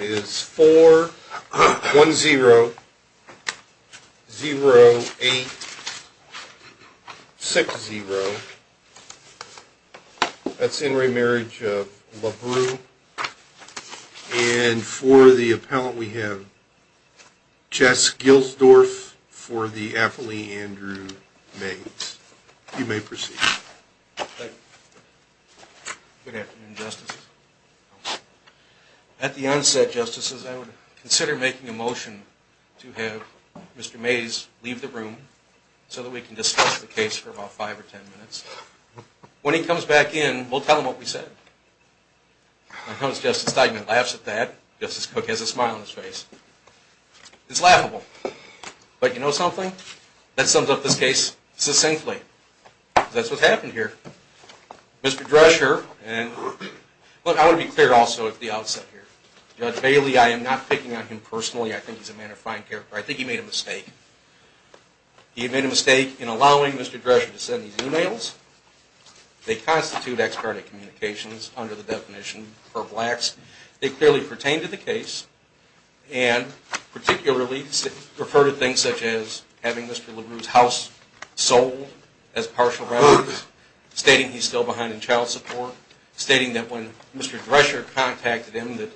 is 410-0860. That's in re Marriage of Labroo. And for the appellant we have Jess Gilsdorf for the appellee Andrew Mays. You may proceed. Good afternoon, Justices. At the onset, Justices, I would consider making a motion to have Mr. Mays leave the room so that we can discuss the case for about 5 or 10 minutes. When he comes back in, we'll tell him what we said. When Justice Steigman laughs at that, Justice Cook has a smile on his face. It's laughable. But you know something? That sums up this case succinctly. That's what happened here. Mr. Drescher, and I want to be clear also at the outset here. Judge Bailey, I am not picking on him personally. I think he's a man of fine character. I think he made a mistake. He made a mistake in allowing Mr. Drescher to send these e-mails. They constitute expert at communications under the definition for blacks. They clearly pertain to the case and particularly refer to things such as having Mr. Labroo's house sold as partial stating he's still behind in child support, stating that when Mr. Drescher contacted him that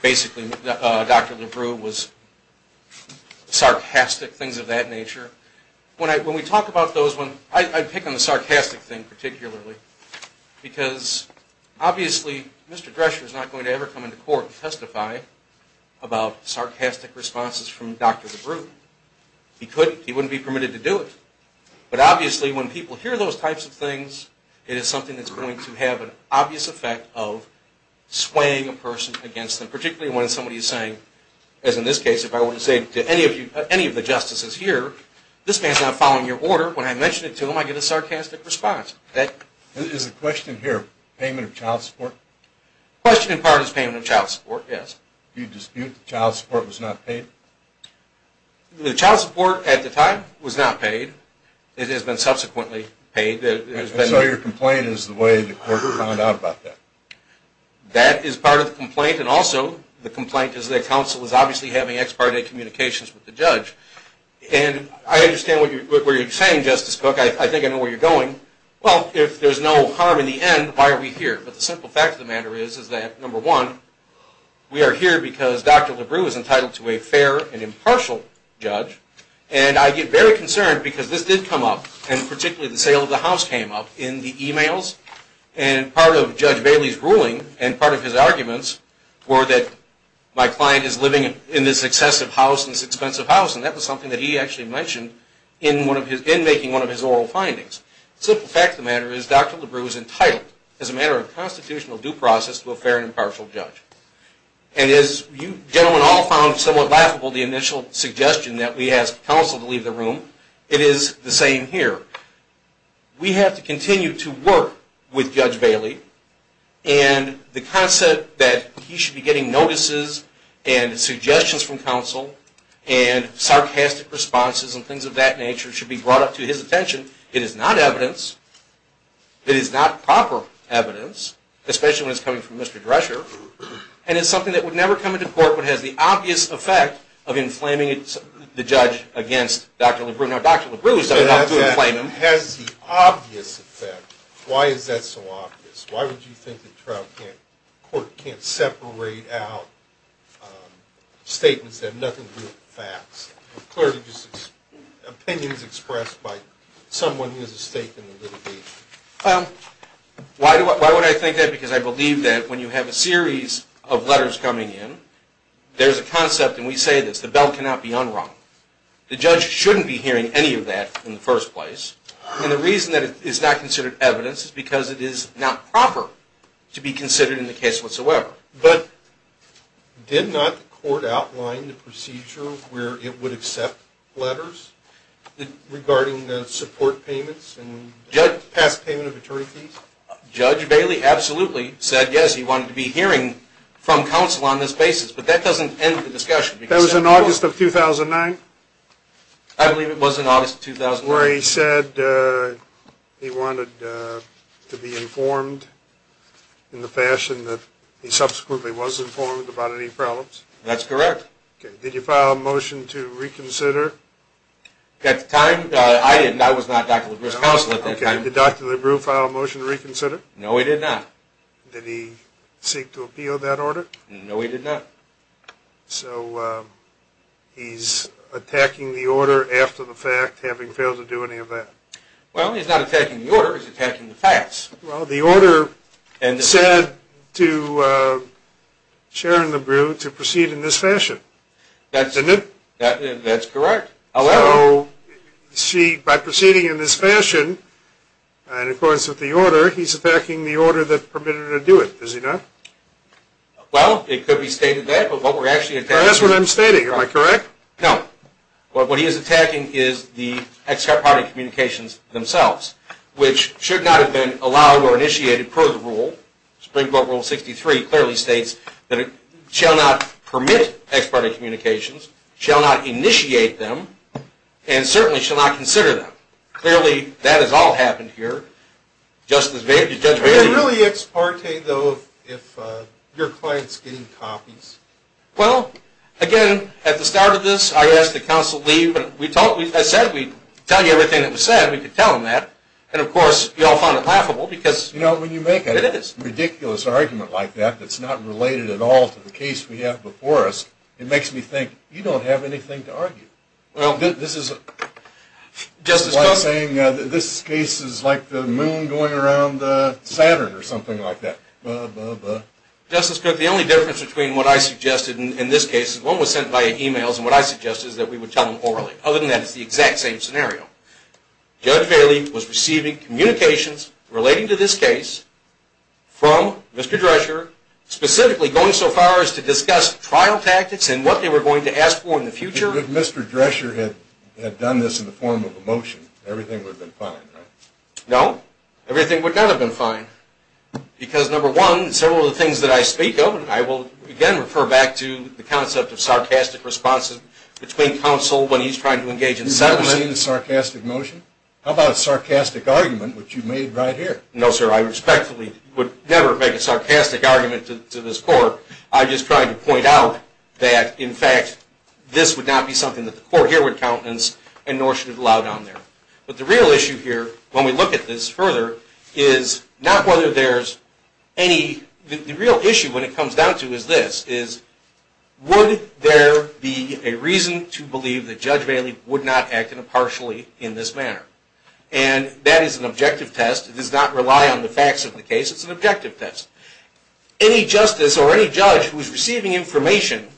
basically Dr. Labroo was sarcastic, things of that nature. When we talk about those, I pick on the sarcastic thing particularly because obviously Mr. Drescher is not going to ever come into court to testify about sarcastic responses from Dr. Labroo. He wouldn't be permitted to do it. But obviously when people hear those types of things, it is something that's going to have an obvious effect of swaying a person against them, particularly when somebody is saying, as in this case if I were to say to any of the justices here, this man's not following your order. When I mention it to him, I get a sarcastic response. Is the question here payment of child support? The question in part is payment of child support, yes. Do you dispute that child support was not paid? The child support at the time was not paid. It has been subsequently paid. So your complaint is the way the court found out about that? That is part of the complaint and also the complaint is that counsel is obviously having expert at communications with the judge. And I understand what you're saying, Justice Cook. I think I know where you're going. Well, if there's no harm in the end, why are we here? But the simple fact of the matter is that, number one, we are here because Dr. Labroo is entitled to a fair and impartial judge. And I get very concerned because this did come up, and particularly the sale of the house came up in the emails. And part of Judge Bailey's ruling and part of his arguments were that my client is living in this excessive house, this expensive house. And that was something that he actually mentioned in making one of his oral findings. The simple fact of the matter is Dr. Labroo is entitled, as a matter of constitutional due process, to a fair and impartial judge. And as you gentlemen all found somewhat laughable the initial suggestion that we ask counsel to leave the room, it is the same here. We have to continue to work with Judge Bailey, and the concept that he should be getting notices and suggestions from counsel and sarcastic responses and things of that nature should be brought up to his attention. It is not evidence. It is not proper evidence, especially when it's coming from Mr. Drescher. And it's something that would never come into court but has the obvious effect of inflaming the judge against Dr. Labroo. Now Dr. Labroo is not enough to inflame him. Has the obvious effect. Why is that so obvious? Why would you think the court can't separate out statements that have nothing to do with facts? Clearly just opinions expressed by someone who has a stake in the litigation. Why would I think that? Because I believe that when you have a series of letters coming in, there's a concept, and we say this, the bell cannot be unrung. The judge shouldn't be hearing any of that in the first place. And the reason that it is not considered evidence is because it is not proper to be considered in the case whatsoever. But did not the court outline the procedure where it would accept letters regarding the support payments and past payment of attorney fees? Judge Bailey absolutely said yes, he wanted to be hearing from counsel on this basis. But that doesn't end the discussion. That was in August of 2009? I believe it was in August of 2009. Where he said he wanted to be informed in the fashion that he subsequently was informed about any problems? That's correct. Did you file a motion to reconsider? At the time, I was not Dr. Labroo's counsel at that time. Did Dr. Labroo file a motion to reconsider? No, he did not. Did he seek to appeal that order? No, he did not. So he's attacking the order after the fact, having failed to do any of that? Well, he's not attacking the order, he's attacking the facts. Well, the order said to Sharon Labroo to proceed in this fashion, isn't it? That's correct. So by proceeding in this fashion, and of course with the order, he's attacking the order that permitted her to do it, is he not? Well, it could be stated that. That's what I'm stating, am I correct? No. What he is attacking is the ex-parte communications themselves, which should not have been allowed or initiated per the rule. Supreme Court Rule 63 clearly states that it shall not permit ex-parte communications, shall not initiate them, and certainly shall not consider them. Clearly, that has all happened here. Justice Bader, do you judge me? Is it really ex-parte, though, if your client's getting copies? Well, again, at the start of this, I asked that counsel leave. I said we'd tell you everything that was said, and we could tell him that. And, of course, we all found it laughable because it is. You know, when you make a ridiculous argument like that that's not related at all to the case we have before us, it makes me think you don't have anything to argue. Well, this is like saying this case is like the moon going around Saturn or something like that. Justice Cook, the only difference between what I suggested in this case is one was sent via e-mails, and what I suggested is that we would tell them orally. Other than that, it's the exact same scenario. Judge Bailey was receiving communications relating to this case from Mr. Drescher, specifically going so far as to discuss trial tactics and what they were going to ask for in the future. If Mr. Drescher had done this in the form of a motion, everything would have been fine, right? No, everything would not have been fine. Because, number one, several of the things that I speak of, and I will again refer back to the concept of sarcastic responses between counsel when he's trying to engage in settlement. You've never seen a sarcastic motion? How about a sarcastic argument, which you made right here? No, sir, I respectfully would never make a sarcastic argument to this court. I'm just trying to point out that, in fact, this would not be something that the court here would countenance and nor should it allow down there. But the real issue here, when we look at this further, is not whether there's any... The real issue when it comes down to is this, is would there be a reason to believe that Judge Bailey would not act impartially in this manner? And that is an objective test. It does not rely on the facts of the case. It's an objective test. Any justice or any judge who is receiving information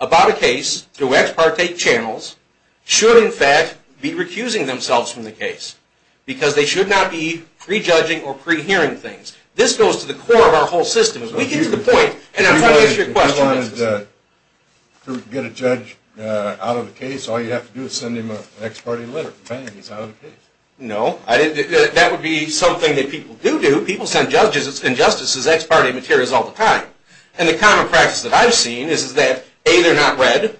about a case through ex parte channels should, in fact, be recusing themselves from the case. Because they should not be prejudging or pre-hearing things. This goes to the core of our whole system. If we get to the point... If you wanted to get a judge out of the case, all you have to do is send him an ex parte letter. Bam, he's out of the case. No, that would be something that people do do. People send judges and justices ex parte materials all the time. And the common practice that I've seen is that, A, they're not read.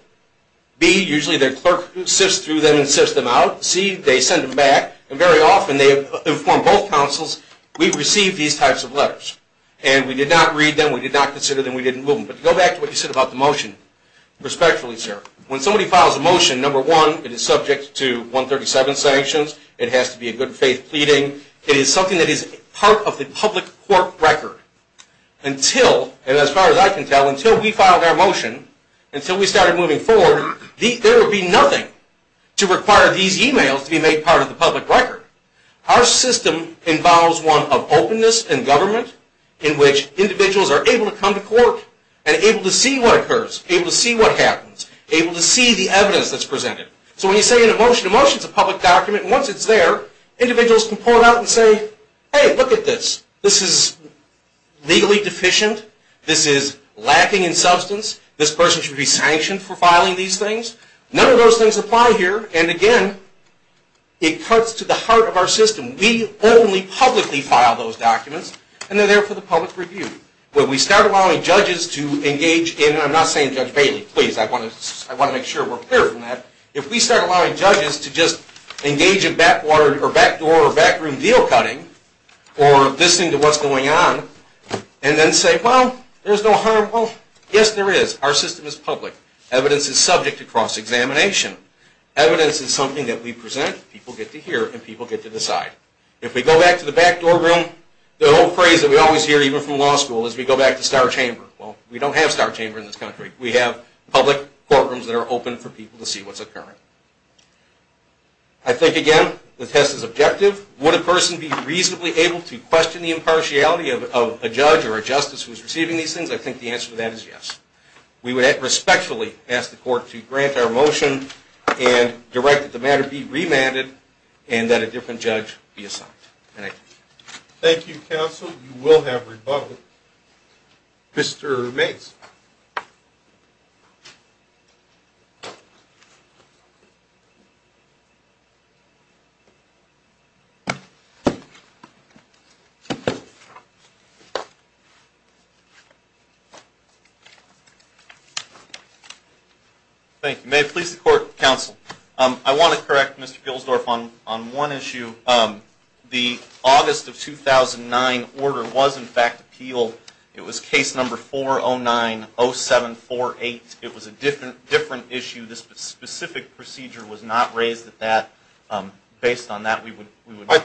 B, usually their clerk sifts through them and sifts them out. C, they send them back. And very often they inform both counsels. We've received these types of letters. And we did not read them. We did not consider them. We didn't move them. But go back to what you said about the motion. Respectfully, sir, when somebody files a motion, number one, it is subject to 137 sanctions. It has to be a good faith pleading. It is something that is part of the public court record. Until, and as far as I can tell, until we filed our motion, until we started moving forward, there would be nothing to require these e-mails to be made part of the public record. Our system involves one of openness and government in which individuals are able to come to court and able to see what occurs, able to see what happens, able to see the evidence that's presented. So when you say an emotion to motion is a public document, once it's there, individuals can pull it out and say, hey, look at this. This is legally deficient. This is lacking in substance. This person should be sanctioned for filing these things. None of those things apply here. And again, it cuts to the heart of our system. We only publicly file those documents, and they're there for the public review. When we start allowing judges to engage in, and I'm not saying Judge Bailey. Please, I want to make sure we're clear from that. If we start allowing judges to just engage in backdoor or backroom deal cutting or listening to what's going on and then say, well, there's no harm, well, yes, there is. Our system is public. Evidence is subject to cross-examination. Evidence is something that we present, people get to hear, and people get to decide. If we go back to the backdoor room, the old phrase that we always hear, even from law school, is we go back to star chamber. Well, we don't have star chamber in this country. We have public courtrooms that are open for people to see what's occurring. I think, again, the test is objective. Would a person be reasonably able to question the impartiality of a judge or a justice who is receiving these things? I think the answer to that is yes. We would respectfully ask the court to grant our motion and direct that the matter be remanded and that a different judge be assigned. Thank you, counsel. You will have rebuttal. Mr. Mace. Thank you. May it please the court, counsel, I want to correct Mr. Gilsdorf on one issue. The August of 2009 order was, in fact, appealed. It was case number 4090748. It was a different issue. This specific procedure was not raised at that. Based on that, we would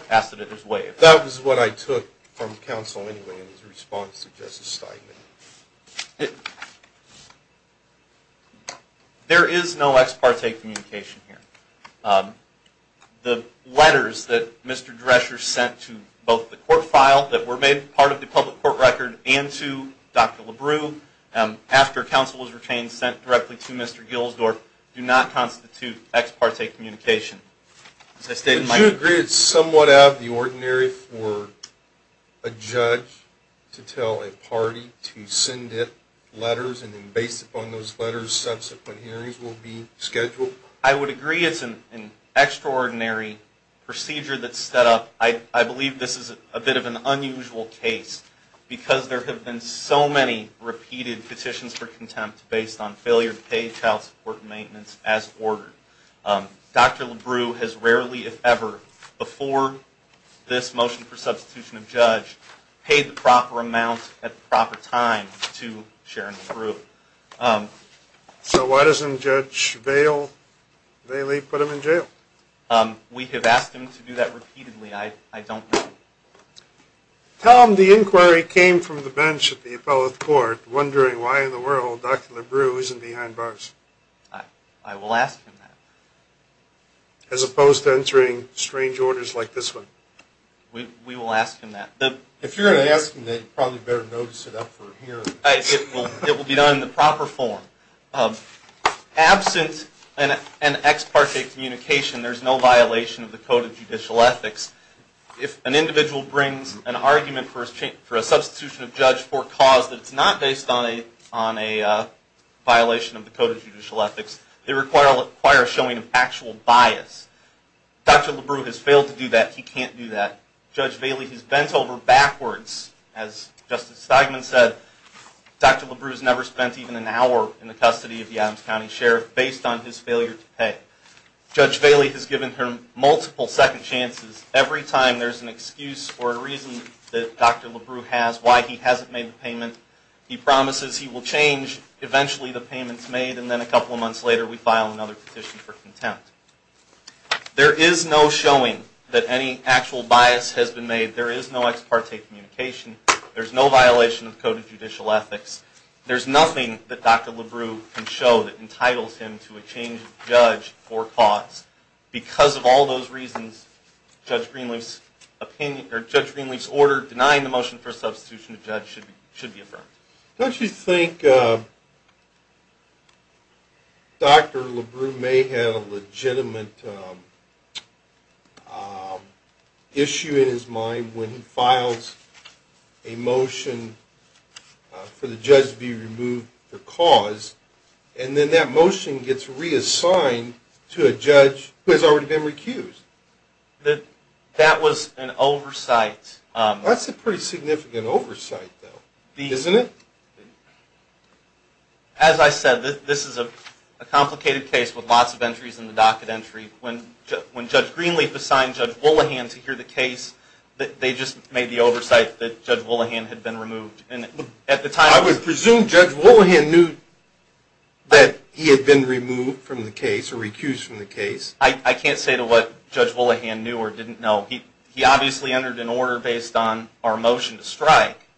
pass it as waived. That was what I took from counsel anyway in his response to Justice Steinman. There is no ex parte communication here. The letters that Mr. Drescher sent to both the court file that were made part of the public court record and to Dr. LaBru, after counsel was retained, sent directly to Mr. Gilsdorf, do not constitute ex parte communication. Did you agree it's somewhat out of the ordinary for a judge to tell a party to send it letters, and then based upon those letters, subsequent hearings will be scheduled? I would agree it's an extraordinary procedure that's set up. I believe this is a bit of an unusual case because there have been so many repeated petitions for contempt based on failure to pay child support and maintenance as ordered. Dr. LaBru has rarely, if ever, before this motion for substitution of judge, paid the proper amount at the proper time to Sharon LaBru. So why doesn't Judge Bailey put him in jail? We have asked him to do that repeatedly. I don't know. Tell him the inquiry came from the bench at the appellate court, wondering why in the world Dr. LaBru isn't behind bars. I will ask him that. As opposed to entering strange orders like this one. We will ask him that. If you're going to ask him that, you probably better notice it up for hearing. It will be done in the proper form. Absent an ex parte communication, there's no violation of the Code of Judicial Ethics. If an individual brings an argument for a substitution of judge for a cause that's not based on a violation of the Code of Judicial Ethics, they require a showing of actual bias. Dr. LaBru has failed to do that. He can't do that. Judge Bailey has bent over backwards. As Justice Steigman said, Dr. LaBru has never spent even an hour in the custody of the Adams County Sheriff based on his failure to pay. Judge Bailey has given him multiple second chances. Every time there's an excuse for a reason that Dr. LaBru has, why he hasn't made the payment, he promises he will change eventually the payments made and then a couple of months later we file another petition for contempt. There is no showing that any actual bias has been made. There is no ex parte communication. There's no violation of the Code of Judicial Ethics. There's nothing that Dr. LaBru can show that entitles him to a change of judge for a cause. Because of all those reasons, Judge Greenleaf's order denying the motion for a substitution of judge should be affirmed. Don't you think Dr. LaBru may have a legitimate issue in his mind when he files a motion for the judge to be removed for cause and then that motion gets reassigned to a judge who has already been recused? That was an oversight. That's a pretty significant oversight though, isn't it? As I said, this is a complicated case with lots of entries in the docket entry. When Judge Greenleaf assigned Judge Wollahan to hear the case, they just made the oversight that Judge Wollahan had been removed. I would presume Judge Wollahan knew that he had been removed from the case or recused from the case. I can't say to what Judge Wollahan knew or didn't know. He obviously entered an order based on our motion to strike.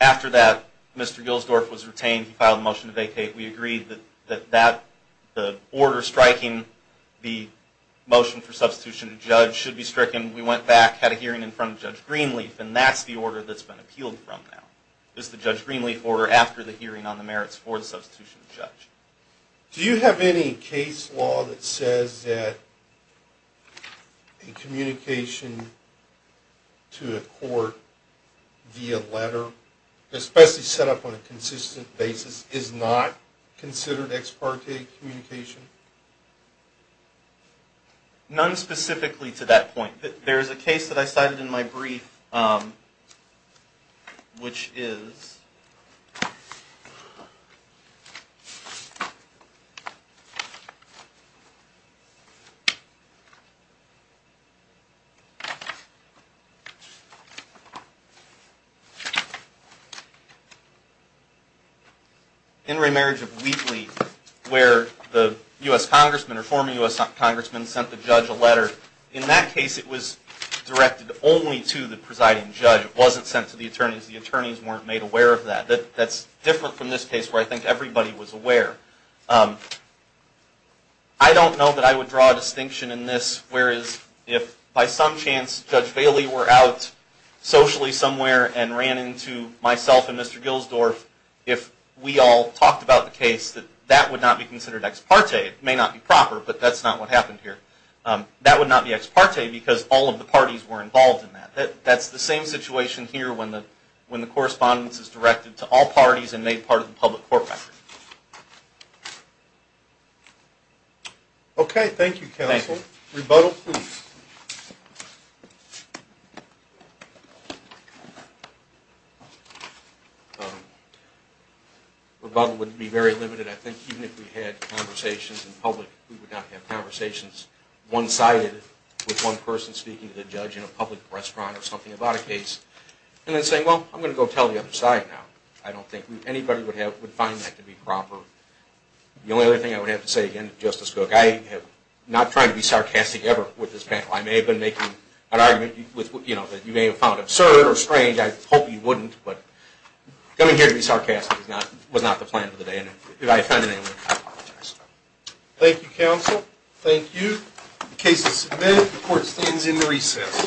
After that, Mr. Gilsdorf was retained. He filed a motion to vacate. We agreed that the order striking the motion for substitution of judge should be stricken. We went back, had a hearing in front of Judge Greenleaf, and that's the order that's been appealed from now. It's the Judge Greenleaf order after the hearing on the merits for the substitution of judge. Do you have any case law that says that a communication to a court via letter, especially set up on a consistent basis, is not considered ex parte communication? None specifically to that point. There's a case that I cited in my brief, which is in remarriage of Wheatley where the U.S. congressman or former U.S. congressman sent the judge a letter. In that case, it was directed only to the presiding judge. It wasn't sent to the attorneys. The attorneys weren't made aware of that. That's different from this case where I think everybody was aware. I don't know that I would draw a distinction in this, whereas if by some chance Judge Bailey were out socially somewhere and ran into myself and Mr. Gilsdorf, if we all talked about the case, that that would not be considered ex parte. It may not be proper, but that's not what happened here. That would not be ex parte because all of the parties were involved in that. That's the same situation here when the correspondence is directed to all parties and made part of the public court record. Okay. Thank you, counsel. Rebuttal, please. Rebuttal would be very limited. I think even if we had conversations in public, we would not have conversations one-sided with one person speaking to the judge in a public restaurant or something about a case and then saying, well, I'm going to go tell the other side now. I don't think anybody would find that to be proper. The only other thing I would have to say again, Justice Cook, I am not trying to be sarcastic ever with this panel. I may have been making an argument that you may have found absurd or strange. I hope you wouldn't, but coming here to be sarcastic was not the plan for the day. Thank you, counsel. Thank you. The case is submitted. The court stands in the recess.